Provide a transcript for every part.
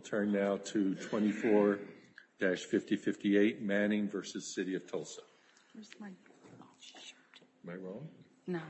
24-5058 Manning v. City of Tulsa 2017-2018 May I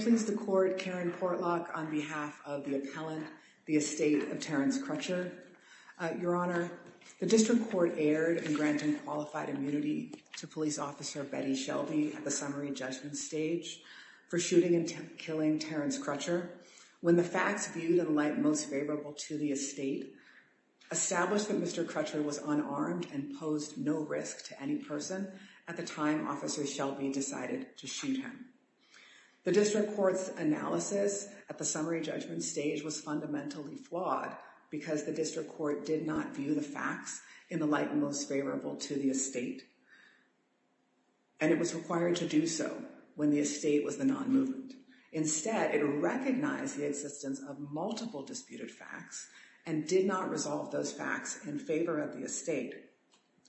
Please the Court, Karen Portlock, on behalf of the appellant, the Aestete of Therence Crutcher. Your Honor, the District Court erred in granting qualified immunity to Police Officer Betty Shelby at the summary judgment stage for shooting and killing Terence Crutcher when the facts viewed in light most favorable to the estate established that Mr. Crutcher was unarmed and posed no risk to any person at the time Officer Shelby decided to shoot him. The District Court's analysis at the summary judgment stage was fundamentally flawed because the District Court did not view the facts in the light most favorable to the estate and it was required to do so when the estate was the non-movement. Instead, it recognized the existence of multiple disputed facts and did not resolve those facts in favor of the estate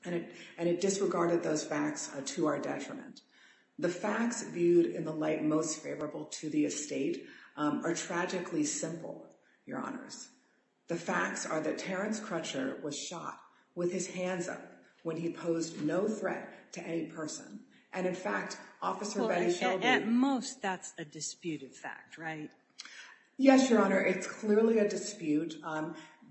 and it disregarded those facts to our detriment. The facts viewed in the light most favorable to the estate are tragically simple, Your Honors. The facts are that Terence Crutcher was shot with his hands up when he posed no threat to any person and, in fact, Officer Betty Shelby... At most, that's a disputed fact, right? Yes, Your Honor, it's clearly a dispute.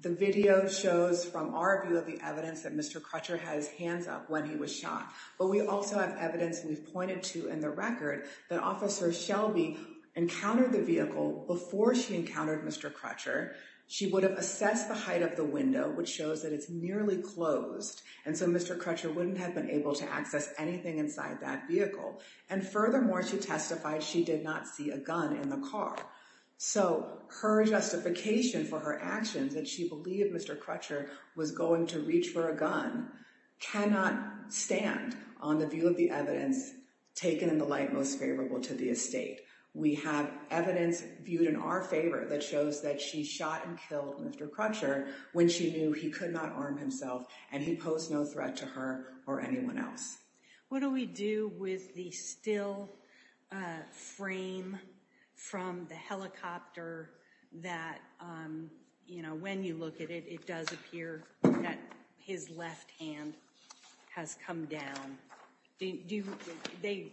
The video shows from our view of the evidence that Mr. Crutcher had his hands up when he was shot, but we also have evidence we've pointed to in the record that Officer Shelby encountered the vehicle before she encountered Mr. Crutcher. She would have assessed the height of the window, which shows that it's nearly closed, and so Mr. Crutcher wouldn't have been able to access anything inside that vehicle. And furthermore, she testified she did not see a gun in the car. So her justification for her actions that she believed Mr. Crutcher was going to reach for a gun cannot stand on the view of the evidence taken in the light most favorable to the estate. We have evidence viewed in our favor that shows that she shot and killed Mr. Crutcher when she knew he could not arm himself and he posed no threat to her or anyone else. What do we do with the still frame from the helicopter that, you know, when you look at it, it does appear that his left hand has come down? They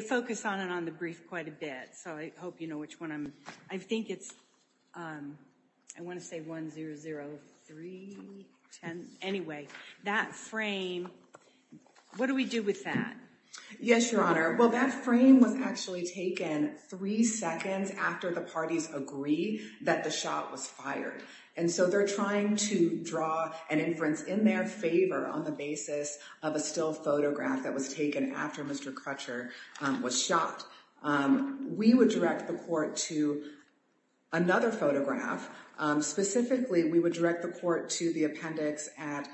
focus on it on the brief quite a bit, so I hope you know which one I'm, I think it's, I want to say 1-0-0-3-10, anyway, that frame, what do we do with that? Yes, Your Honor, well that frame was actually taken three seconds after the parties agree that the shot was fired, and so they're trying to draw an inference in their favor on the basis of a still photograph that was taken after Mr. Crutcher was shot. We would direct the court to another photograph, specifically we would direct the court to the appendix at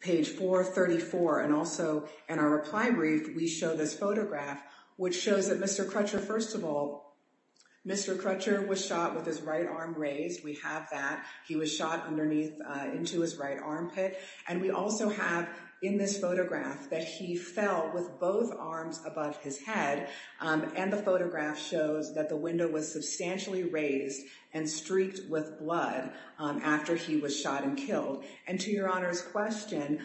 page 434, and also in our reply brief we show this photograph, which shows that Mr. Crutcher, first of all, Mr. Crutcher was shot with his right arm raised, we have that, he was shot underneath into his right armpit, and we also have in this photograph that he fell with both arms above his head, and the photograph shows that the window was substantially raised and streaked with blood after he was shot and killed. And to Your Honor's question,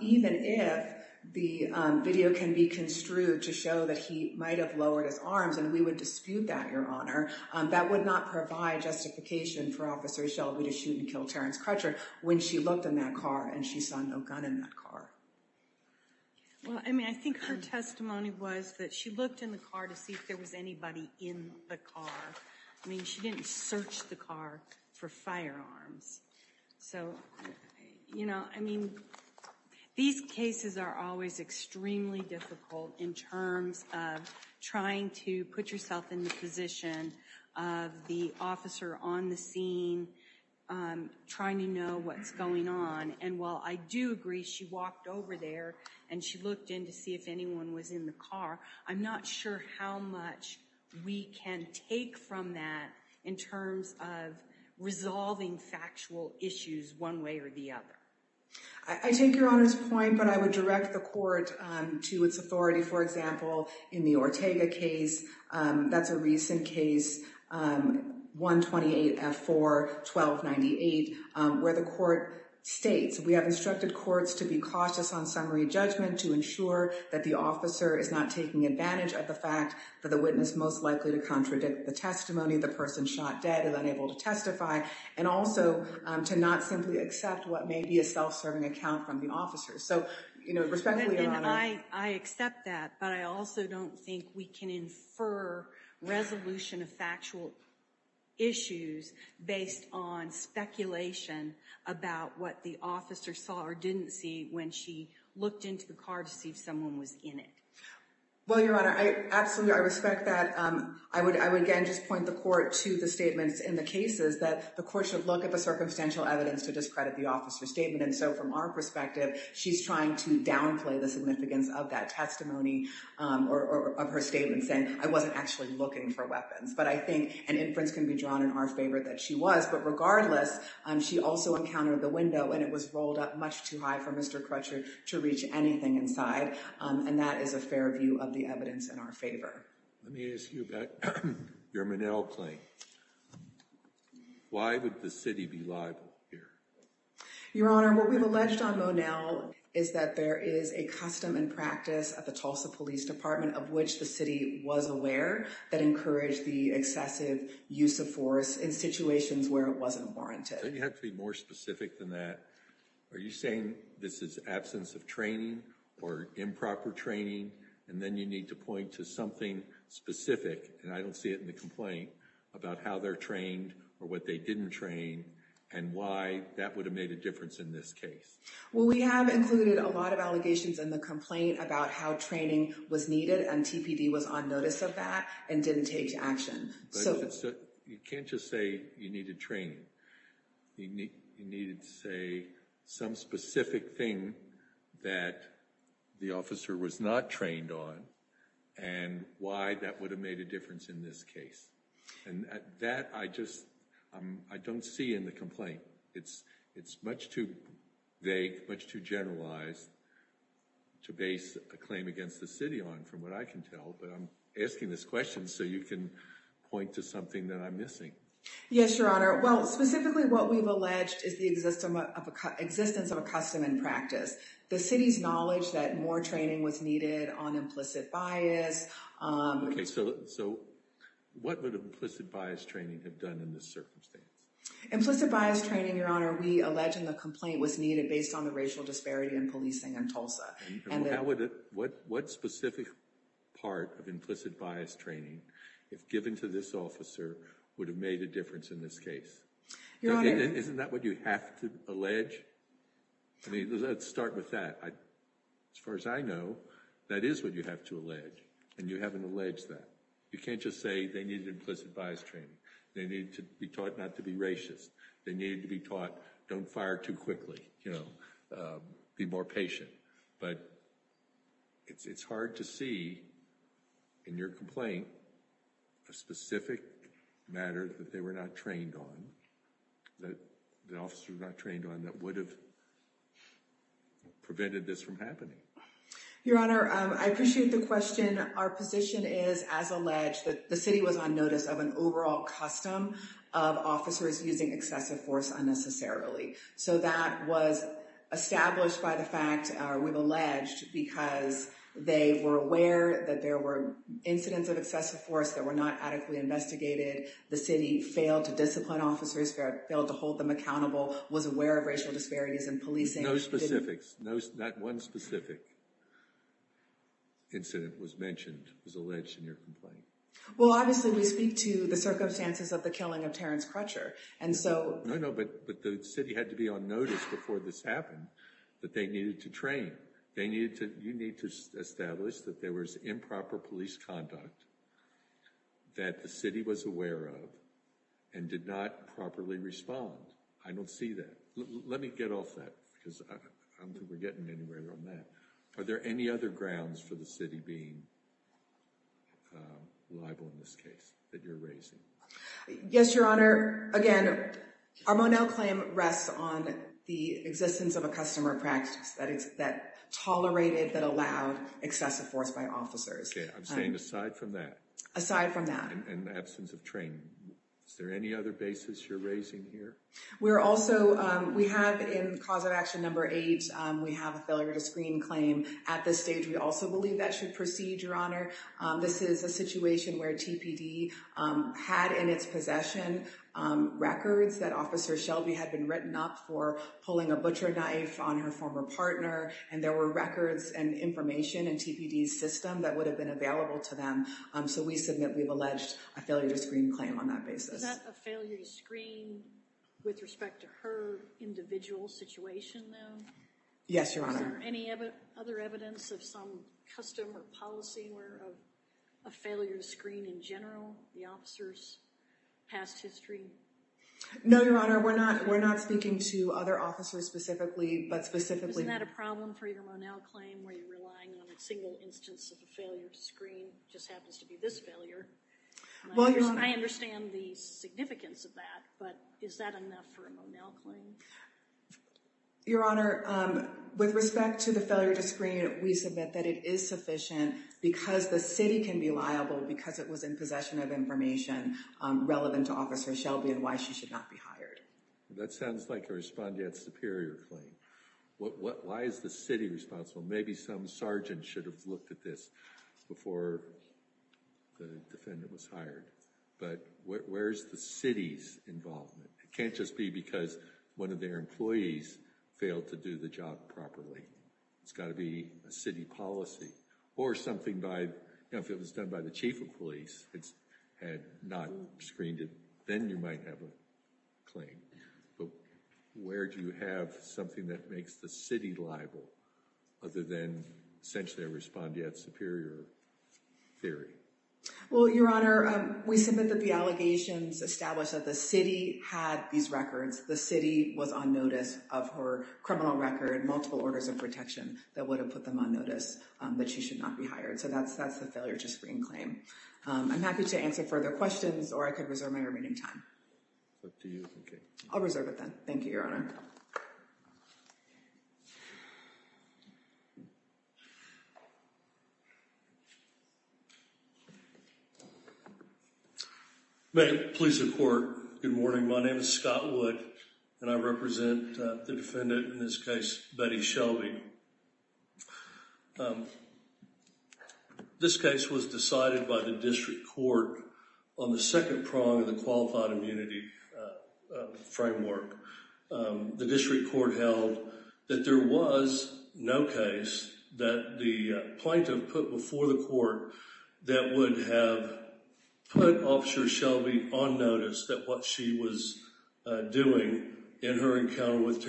even if the video can be construed to show that he might have lowered his arms, and we would dispute that, Your Honor, that would not provide justification for Officer Shelby to shoot and kill Terrence Crutcher when she looked in that car and she saw no gun in that car. Well, I mean, I think her testimony was that she looked in the car to see if there was anybody in the car. I mean, she didn't search the car for firearms. So, you know, I mean, these cases are always extremely difficult in terms of trying to put yourself in the position of the officer on the scene trying to know what's going on. And while I do agree she walked over there and she looked in to see if anyone was in the car, I'm not sure how much we can take from that in terms of resolving factual issues one way or the other. I take Your Honor's point, but I would direct the court to its authority, for example, in the Ortega case. That's a recent case, 128F4-1298, where the court states, we have instructed courts to be cautious on summary judgment to ensure that the officer is not taking advantage of the fact that the witness most likely to contradict the testimony, the person shot dead and unable to testify, and also to not simply accept what may be a self-serving account from the officer. So, respectfully, Your Honor. And I accept that, but I also don't think we can infer resolution of factual issues based on speculation about what the officer saw or didn't see when she looked into the car to see if someone was in it. Well, Your Honor, absolutely, I respect that. I would, again, just point the court to the statements in the cases that the court should look at the circumstantial evidence to discredit the officer's statement. And so, from our perspective, she's trying to downplay the significance of that testimony or of her statement saying, I wasn't actually looking for weapons. But I think an inference can be drawn in our favor that she was. But regardless, she also encountered the window, and it was rolled up much too high for Mr. Crutcher to reach anything inside. And that is a fair view of the evidence in our favor. Let me ask you about your Minnell claim. Why would the city be liable here? Your Honor, what we've alleged on Monell is that there is a custom and practice at the Tulsa Police Department of which the city was aware that encouraged the excessive use of force in situations where it wasn't warranted. Don't you have to be more specific than that? Are you saying this is absence of training or improper training? And then you need to point to something specific, and I don't see it in the complaint, about how they're trained or what they didn't train and why that would have made a difference in this case. Well, we have included a lot of allegations in the complaint about how training was needed and TPD was on notice of that and didn't take action. You can't just say you needed training. You needed to say some specific thing that the officer was not trained on and why that would have made a difference in this case. And that I just don't see in the complaint. It's much too vague, much too generalized to base a claim against the city on, from what I can tell. But I'm asking this question so you can point to something that I'm missing. Yes, Your Honor. Well, specifically what we've alleged is the existence of a custom and practice. The city's knowledge that more training was needed on implicit bias. Okay, so what would implicit bias training have done in this circumstance? Implicit bias training, Your Honor, we allege in the complaint was needed based on the racial disparity in policing in Tulsa. What specific part of implicit bias training, if given to this officer, would have made a difference in this case? Isn't that what you have to allege? I mean, let's start with that. As far as I know, that is what you have to allege. And you haven't alleged that. You can't just say they needed implicit bias training. They needed to be taught not to be racist. They needed to be taught, don't fire too quickly, you know, be more patient. But it's hard to see in your complaint a specific matter that they were not trained on, that the officer was not trained on, that would have prevented this from happening. Your Honor, I appreciate the question. Our position is, as alleged, that the city was on notice of an overall custom of officers using excessive force unnecessarily. So that was established by the fact, we've alleged, because they were aware that there were incidents of excessive force that were not adequately investigated. The city failed to discipline officers, failed to hold them accountable, was aware of racial disparities in policing. No specifics, not one specific incident was mentioned, was alleged in your complaint. Well, obviously, we speak to the circumstances of the killing of Terrence Crutcher. And so... No, no, but the city had to be on notice before this happened, that they needed to train. They needed to, you need to establish that there was improper police conduct, that the city was aware of, and did not properly respond. I don't see that. Let me get off that, because I don't think we're getting anywhere on that. Are there any other grounds for the city being liable in this case that you're raising? Yes, Your Honor. Again, our Monell claim rests on the existence of a customer practice that tolerated, that allowed excessive force by officers. Okay, I'm saying aside from that. Aside from that. And the absence of training. Is there any other basis you're raising here? We're also, we have in cause of action number eight, we have a failure to screen claim. At this stage, we also believe that should proceed, Your Honor. This is a situation where TPD had in its possession records that Officer Shelby had been written up for pulling a butcher knife on her former partner. And there were records and information in TPD's system that would have been available to them. So we submit we've alleged a failure to screen claim on that basis. Is that a failure to screen with respect to her individual situation, though? Yes, Your Honor. Is there any other evidence of some custom or policy where a failure to screen in general, the officer's past history? No, Your Honor. We're not speaking to other officers specifically, but specifically— Isn't that a problem for your Monell claim, where you're relying on a single instance of a failure to screen? It just happens to be this failure. I understand the significance of that, but is that enough for a Monell claim? Your Honor, with respect to the failure to screen, we submit that it is sufficient because the city can be liable because it was in possession of information relevant to Officer Shelby and why she should not be hired. That sounds like a respondent superior claim. Why is the city responsible? Maybe some sergeant should have looked at this before the defendant was hired, but where is the city's involvement? It can't just be because one of their employees failed to do the job properly. It's got to be a city policy or something by, you know, if it was done by the chief of police and had not screened it, then you might have a claim. But where do you have something that makes the city liable other than essentially a respondent superior theory? Well, Your Honor, we submit that the allegations establish that the city had these records. The city was on notice of her criminal record, multiple orders of protection that would have put them on notice that she should not be hired. So that's the failure to screen claim. I'm happy to answer further questions or I could reserve my remaining time. What do you think? I'll reserve it then. Thank you, Your Honor. May it please the court. Good morning. My name is Scott Wood and I represent the defendant in this case, Betty Shelby. This case was decided by the district court on the second prong of the qualified immunity framework. The district court held that there was no case that the plaintiff put before the court that would have put Officer Shelby on notice that what she was doing in her encounter with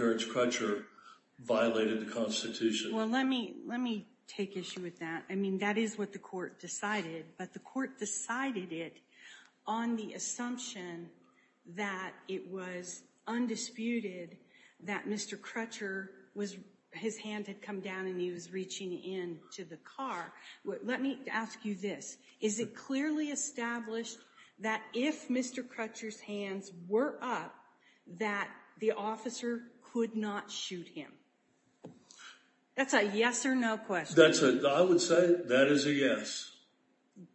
Well, let me let me take issue with that. I mean, that is what the court decided, but the court decided it on the assumption that it was undisputed that Mr. Crutcher was his hand had come down and he was reaching in to the car. Let me ask you this. Is it clearly established that if Mr. Crutcher's hands were up that the officer could not shoot him? That's a yes or no question. That's what I would say. That is a yes.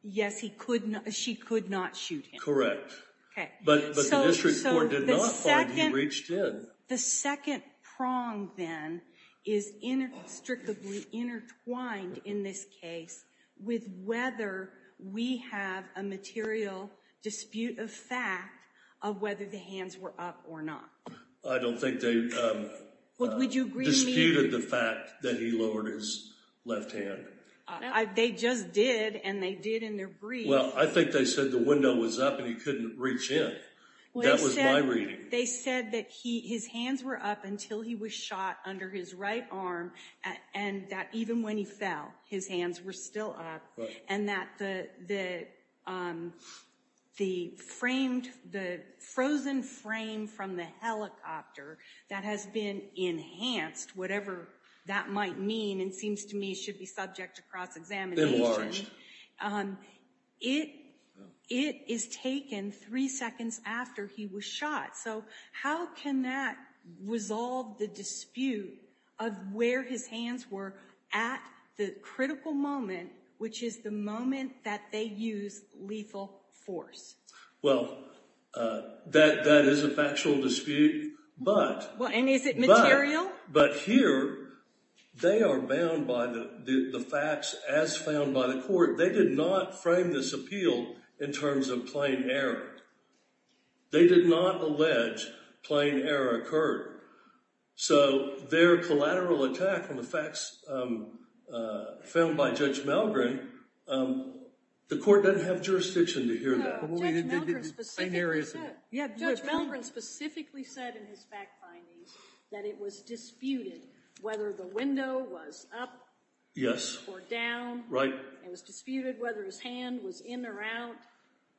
Yes, he could. She could not shoot him. Okay, but the district court did not find he reached in. The second prong then is in a strictly intertwined in this case with whether we have a material dispute of fact of whether the hands were up or not. I don't think they disputed the fact that he lowered his left hand. They just did, and they did in their brief. Well, I think they said the window was up and he couldn't reach in. That was my reading. They said that his hands were up until he was shot under his right arm, and that even when he fell, his hands were still up. And that the frozen frame from the helicopter that has been enhanced, whatever that might mean and seems to me should be subject to cross-examination, it is taken three seconds after he was shot. So how can that resolve the dispute of where his hands were at the critical moment, which is the moment that they use lethal force? Well, that is a factual dispute, but- Well, and is it material? But here, they are bound by the facts as found by the court. They did not frame this appeal in terms of plain error. They did not allege plain error occurred. So their collateral attack on the facts found by Judge Malgren, the court doesn't have jurisdiction to hear that. No, Judge Malgren specifically said in his fact findings that it was disputed whether the window was up or down. It was disputed whether his hand was in or out.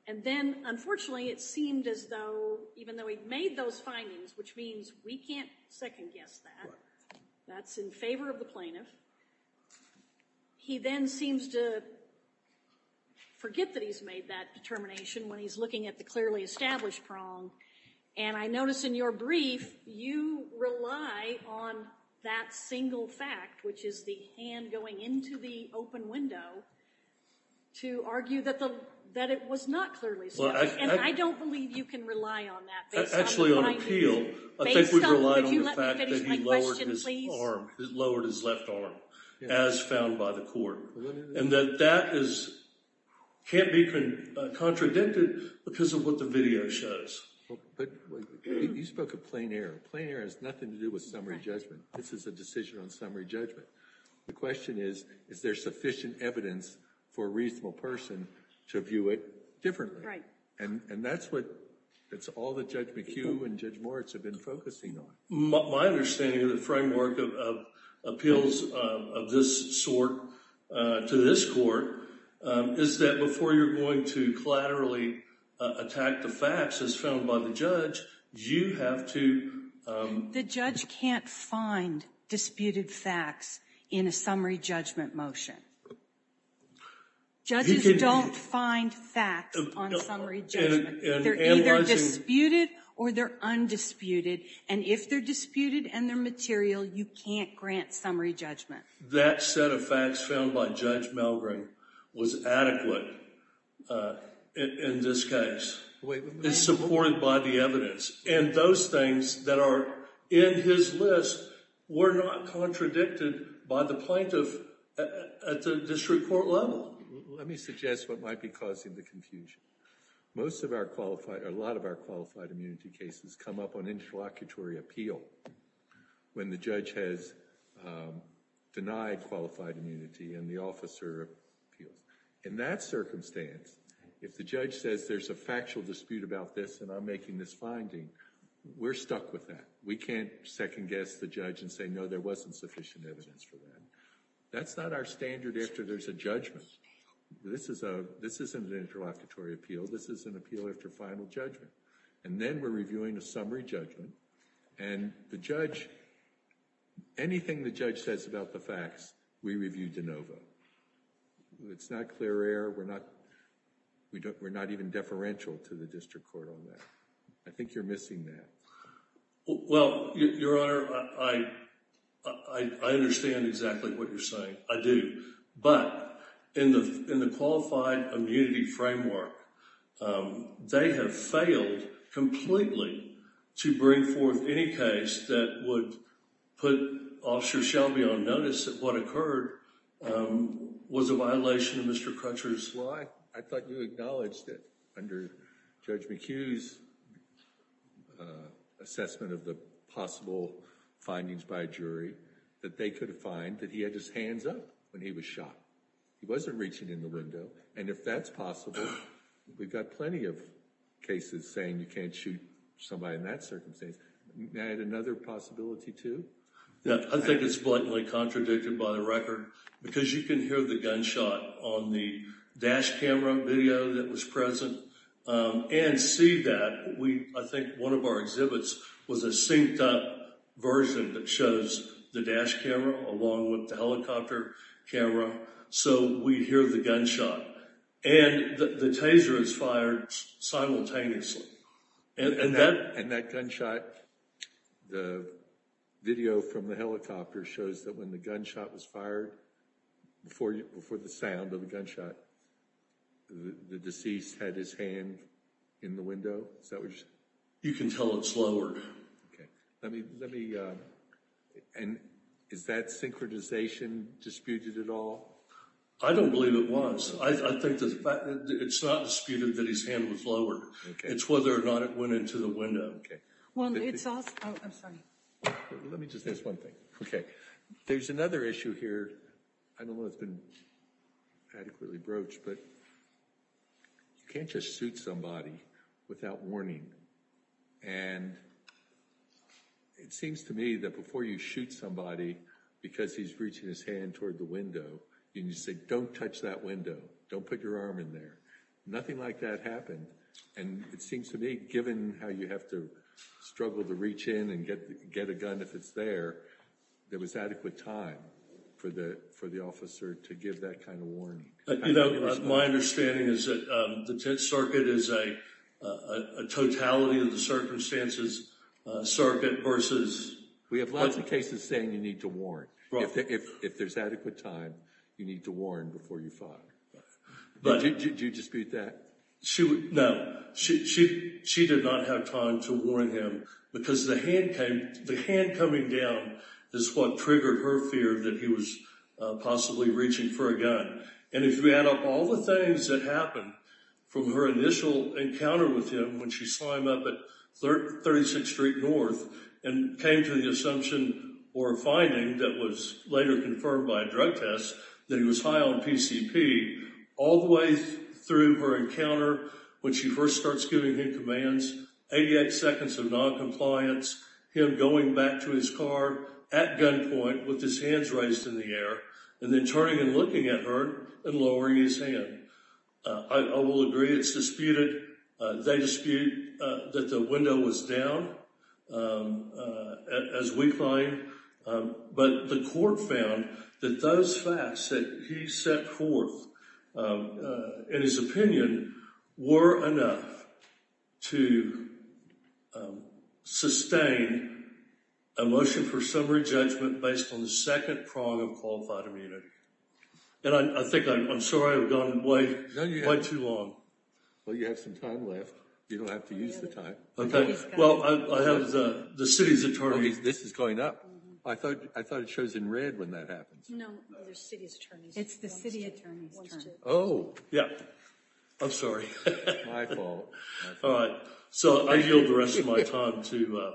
And then, unfortunately, it seemed as though even though he made those findings, which means we can't second guess that, that's in favor of the plaintiff, he then seems to forget that he's made that determination when he's looking at the clearly established prong. And I notice in your brief, you rely on that single fact, which is the hand going into the open window, to argue that it was not clearly established. And I don't believe you can rely on that. Actually, on appeal, I think we rely on the fact that he lowered his left arm, as found by the court. And that that can't be contradicted because of what the video shows. But you spoke of plain error. Plain error has nothing to do with summary judgment. This is a decision on summary judgment. The question is, is there sufficient evidence for a reasonable person to view it differently? Right. And that's what it's all that Judge McHugh and Judge Moritz have been focusing on. My understanding of the framework of appeals of this sort to this court is that before you're going to collaterally attack the facts, as found by the judge, you have to- The judge can't find disputed facts in a summary judgment motion. He can't- Judges don't find facts on summary judgment. They're either disputed or they're undisputed. And if they're disputed and they're material, you can't grant summary judgment. That set of facts found by Judge Malgrim was adequate in this case, and supported by the evidence. And those things that are in his list were not contradicted by the plaintiff at the district court level. Let me suggest what might be causing the confusion. Most of our qualified, or a lot of our qualified immunity cases come up on interlocutory appeal when the judge has denied qualified immunity and the officer appeals. In that circumstance, if the judge says there's a factual dispute about this and I'm making this finding, we're stuck with that. We can't second guess the judge and say, no, there wasn't sufficient evidence for that. That's not our standard after there's a judgment. This isn't an interlocutory appeal. This is an appeal after final judgment. And then we're reviewing a summary judgment. And the judge, anything the judge says about the facts, we review de novo. It's not clear error. We're not even deferential to the district court on that. I think you're missing that. Well, Your Honor, I understand exactly what you're saying. I do. But in the qualified immunity framework, they have failed completely to bring forth any case that would put Officer Shelby on notice that what occurred was a violation of Mr. Crutcher's law. I thought you acknowledged it under Judge McHugh's assessment of the possible findings by a jury that they could find that he had his hands up when he was shot. He wasn't reaching in the window. And if that's possible, we've got plenty of cases saying you can't shoot somebody in that circumstance. May I add another possibility, too? I think it's blatantly contradicted by the record. Because you can hear the gunshot on the dash camera video that was present and see that we, I think one of our exhibits was a synced up version that shows the dash camera along with the helicopter camera. So we hear the gunshot and the taser is fired simultaneously. And that gunshot, the video from the helicopter shows that when the gunshot was fired, before the sound of the gunshot, the deceased had his hand in the window. Is that what you're saying? You can tell it's lowered. And is that synchronization disputed at all? I don't believe it was. I think it's not disputed that his hand was lowered. It's whether or not it went into the window. OK. Well, it's also, oh, I'm sorry. Let me just ask one thing. OK. There's another issue here. I don't know if it's been adequately broached, but you can't just shoot somebody without warning. And it seems to me that before you shoot somebody because he's reaching his hand toward the window and you say, don't touch that window, don't put your arm in there, nothing like that happened. And it seems to me, given how you have to struggle to reach in and get a gun if it's there, there was adequate time for the officer to give that kind of warning. My understanding is that the 10th Circuit is a totality of the circumstances circuit versus... We have lots of cases saying you need to warn. If there's adequate time, you need to warn before you fire. Do you dispute that? No. She did not have time to warn him because the hand coming down is what triggered her fear that he was possibly reaching for a gun. And if you add up all the things that happened from her initial encounter with him when she saw him up at 36th Street North and came to the assumption or finding that was later confirmed by a drug test that he was high on PCP, all the way through her encounter when she first starts giving him commands, 88 seconds of noncompliance, him going back to his car at gunpoint with his hands raised in the air, and then turning and looking at her and lowering his hand. I will agree it's disputed. They dispute that the window was down as we climb. But the court found that those facts that he set forth in his opinion were enough to sustain a motion for summary judgment based on the second prong of qualified immunity. And I think I'm sorry I've gone way too long. Well, you have some time left. You don't have to use the time. Okay. Well, I have the city's attorney. This is going up. I thought it shows in red when that happens. No, the city's attorney. It's the city attorney's turn. Oh. Yeah. I'm sorry. My fault. All right. So I yield the rest of my time to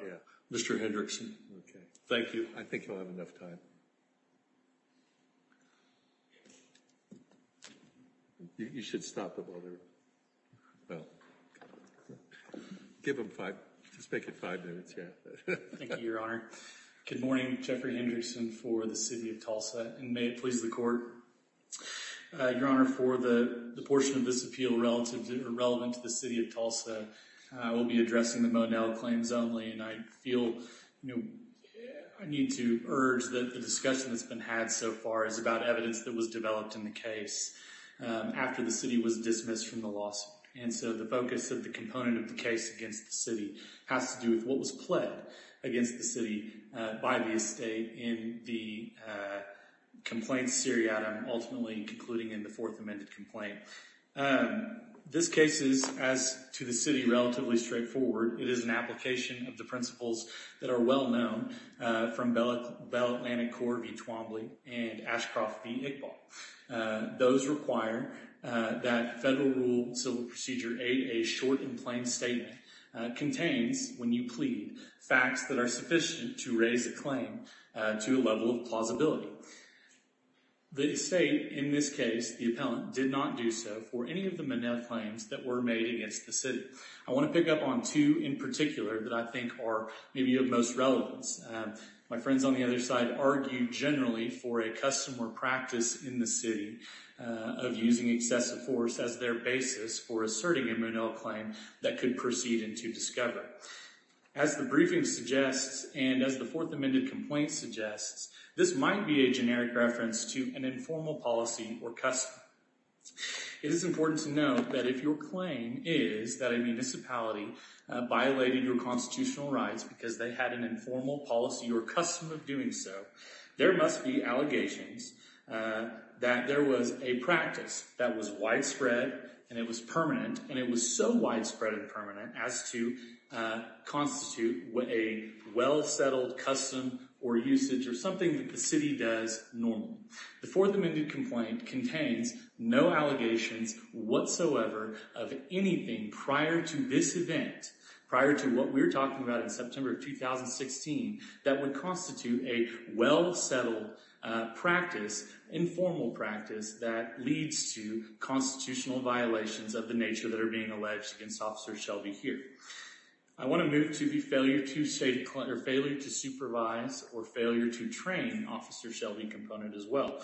Mr. Hendrickson. Okay. Thank you. I think you'll have enough time. You should stop them while they're. Well, give them five. Just make it five minutes. Thank you, Your Honor. Good morning. Jeffrey Hendrickson for the city of Tulsa. And may it please the court. Your Honor, for the portion of this appeal relevant to the city of Tulsa, I will be addressing the Monell claims only. And I feel I need to urge that the discussion that's been had so far is about evidence that was developed in the case after the city was dismissed from the lawsuit. And so the focus of the component of the case against the city has to do with what was pledged against the city by the estate in the complaint seriatim, ultimately concluding in the fourth amended complaint. This case is, as to the city, relatively straightforward. It is an application of the principles that are well known from Bell Atlantic Corp v. Twombly and Ashcroft v. Iqbal. Those require that federal rule civil procedure 8A, short and plain statement, contains, when you plead, facts that are sufficient to raise a claim to a level of plausibility. The estate, in this case, the appellant, did not do so for any of the Monell claims that were made against the city. I want to pick up on two in particular that I think are maybe of most relevance. My friends on the other side argued generally for a custom or practice in the city of using excessive force as their basis for asserting a Monell claim that could proceed into discovery. As the briefing suggests and as the fourth amended complaint suggests, this might be a generic reference to an informal policy or custom. It is important to note that if your claim is that a municipality violated your constitutional rights because they had an informal policy or custom of doing so, there must be allegations that there was a practice that was widespread, and it was permanent, and it was so widespread and permanent as to constitute a well-settled custom or usage or something that the city does normally. The fourth amended complaint contains no allegations whatsoever of anything prior to this event, prior to what we're talking about in September of 2016, that would constitute a well-settled practice, informal practice, that leads to constitutional violations of the nature that are being alleged against Officer Shelby here. I want to move to the failure to supervise or failure to train Officer Shelby component as well.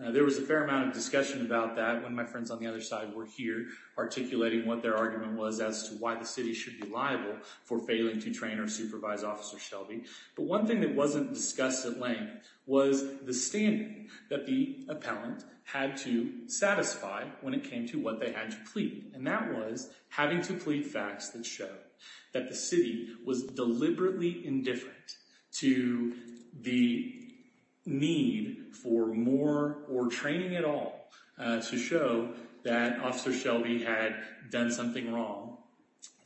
There was a fair amount of discussion about that when my friends on the other side were here articulating what their argument was as to why the city should be liable for failing to train or supervise Officer Shelby. One thing that wasn't discussed at length was the standard that the appellant had to satisfy when it came to what they had to plead, and that was having to plead facts that show that the city was deliberately indifferent to the need for more or training at all to show that Officer Shelby had done something wrong.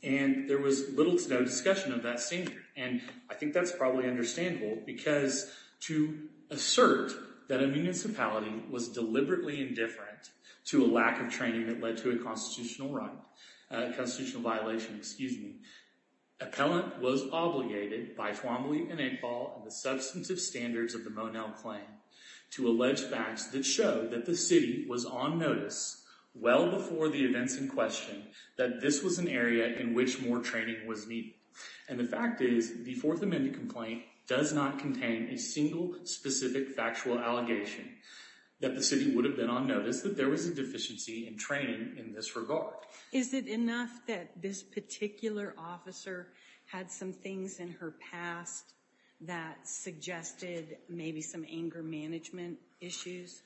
And there was little to no discussion of that standard. And I think that's probably understandable because to assert that a municipality was deliberately indifferent to a lack of training that led to a constitutional violation, appellant was obligated by Twombly and Eggball and the substantive standards of the Monell claim to allege facts that show that the city was on notice well before the events in question that this was an area in which more training was needed. And the fact is the Fourth Amendment complaint does not contain a single specific factual allegation that the city would have been on notice that there was a deficiency in training in this regard. Is it enough that this particular officer had some things in her past that suggested maybe some anger management issues?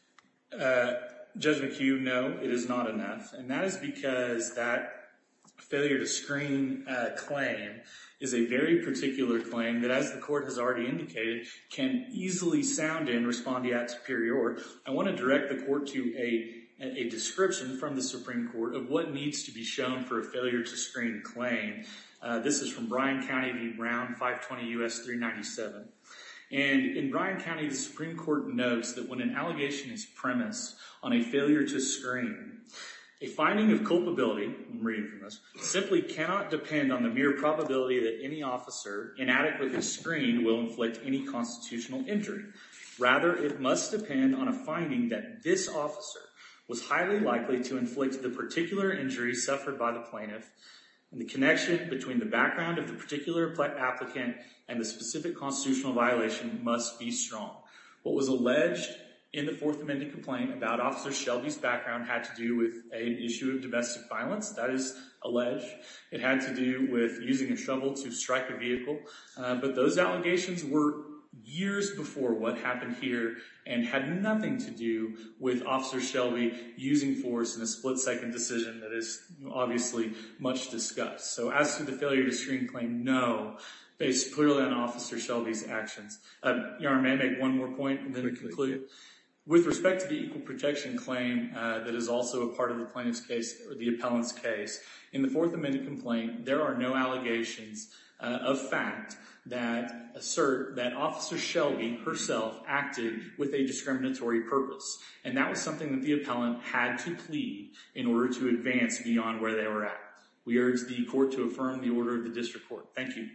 Judge McHugh, no, it is not enough. And that is because that failure to screen claim is a very particular claim that, as the court has already indicated, can easily sound in respondeat superior. I want to direct the court to a description from the Supreme Court of what needs to be shown for a failure to screen claim. This is from Bryan County v. Brown, 520 U.S. 397. And in Bryan County, the Supreme Court notes that when an allegation is premised on a failure to screen, a finding of culpability, I'm reading from this, simply cannot depend on the mere probability that any officer inadequately screened will inflict any constitutional injury. Rather, it must depend on a finding that this officer was highly likely to inflict the particular injury suffered by the plaintiff, and the connection between the background of the particular applicant and the specific constitutional violation must be strong. What was alleged in the Fourth Amendment complaint about Officer Shelby's background had to do with an issue of domestic violence. That is alleged. It had to do with using a shovel to strike a vehicle. But those allegations were years before what happened here, and had nothing to do with Officer Shelby using force in a split-second decision that is obviously much discussed. So as to the failure to screen claim, no, based purely on Officer Shelby's actions. Your Honor, may I make one more point and then conclude? With respect to the equal protection claim that is also a part of the plaintiff's case, or the appellant's case, in the Fourth Amendment complaint, there are no allegations of fact that assert that Officer Shelby herself acted with a discriminatory purpose. And that was something that the appellant had to plead in order to advance beyond where they were at. We urge the court to affirm the order of the district court. Thank you.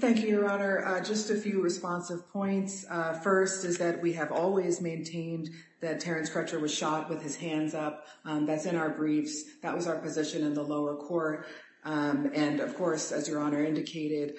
Thank you, Your Honor. Just a few responsive points. First is that we have always maintained that Terence Crutcher was shot with his hands up. That's in our briefs. That was our position in the lower court. And of course, as Your Honor indicated,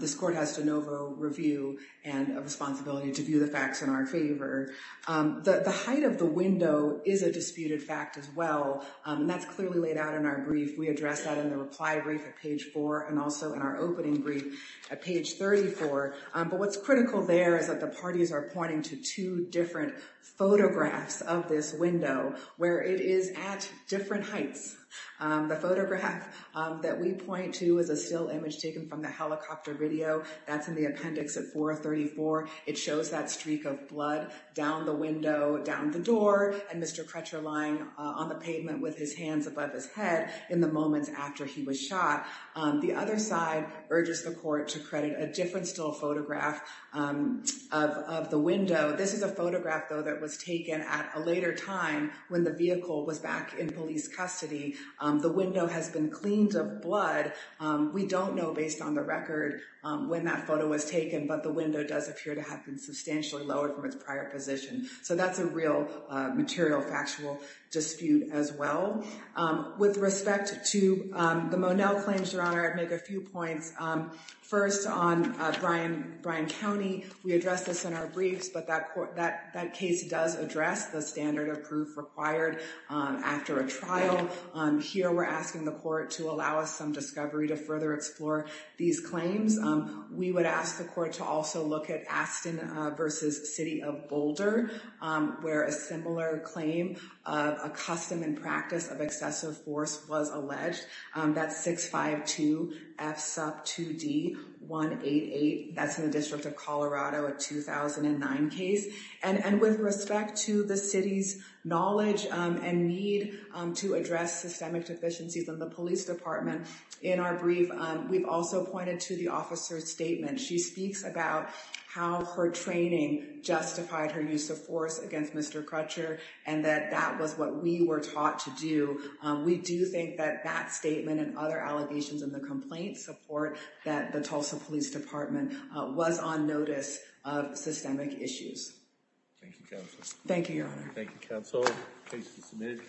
this court has de novo review and a responsibility to view the facts in our favor. The height of the window is a disputed fact as well, and that's clearly laid out in our We address that in the reply brief at page four, and also in our opening brief at page 34. But what's critical there is that the parties are pointing to two different photographs of this window where it is at different heights. The photograph that we point to is a still image taken from the helicopter video. That's in the appendix at 434. It shows that streak of blood down the window, down the door, and Mr. Crutcher lying on the pavement with his hands above his head in the moments after he was shot. The other side urges the court to credit a different still photograph of the window. This is a photograph, though, that was taken at a later time when the vehicle was back in police custody. The window has been cleaned of blood. We don't know, based on the record, when that photo was taken, but the window does appear to have been substantially lowered from its prior position. So that's a real material factual dispute as well. With respect to the Monell claims, Your Honor, I'd make a few points. First, on Bryan County, we address this in our briefs, but that case does address the standard of proof required after a trial. Here, we're asking the court to allow us some discovery to further explore these claims. We would ask the court to also look at Aston versus City of Boulder, where a similar claim of a custom and practice of excessive force was alleged. That's 652F2D188. That's in the District of Colorado, a 2009 case. And with respect to the city's knowledge and need to address systemic deficiencies in the police department, in our brief, we've also pointed to the officer's statement. She speaks about how her training justified her use of force against Mr. Crutcher and that that was what we were taught to do. We do think that that statement and other allegations in the complaint support that the Tulsa Police Department was on notice of systemic issues. Thank you, Counsel. Thank you, Your Honor. Thank you, Counsel. Case is submitted. Counselor, excused.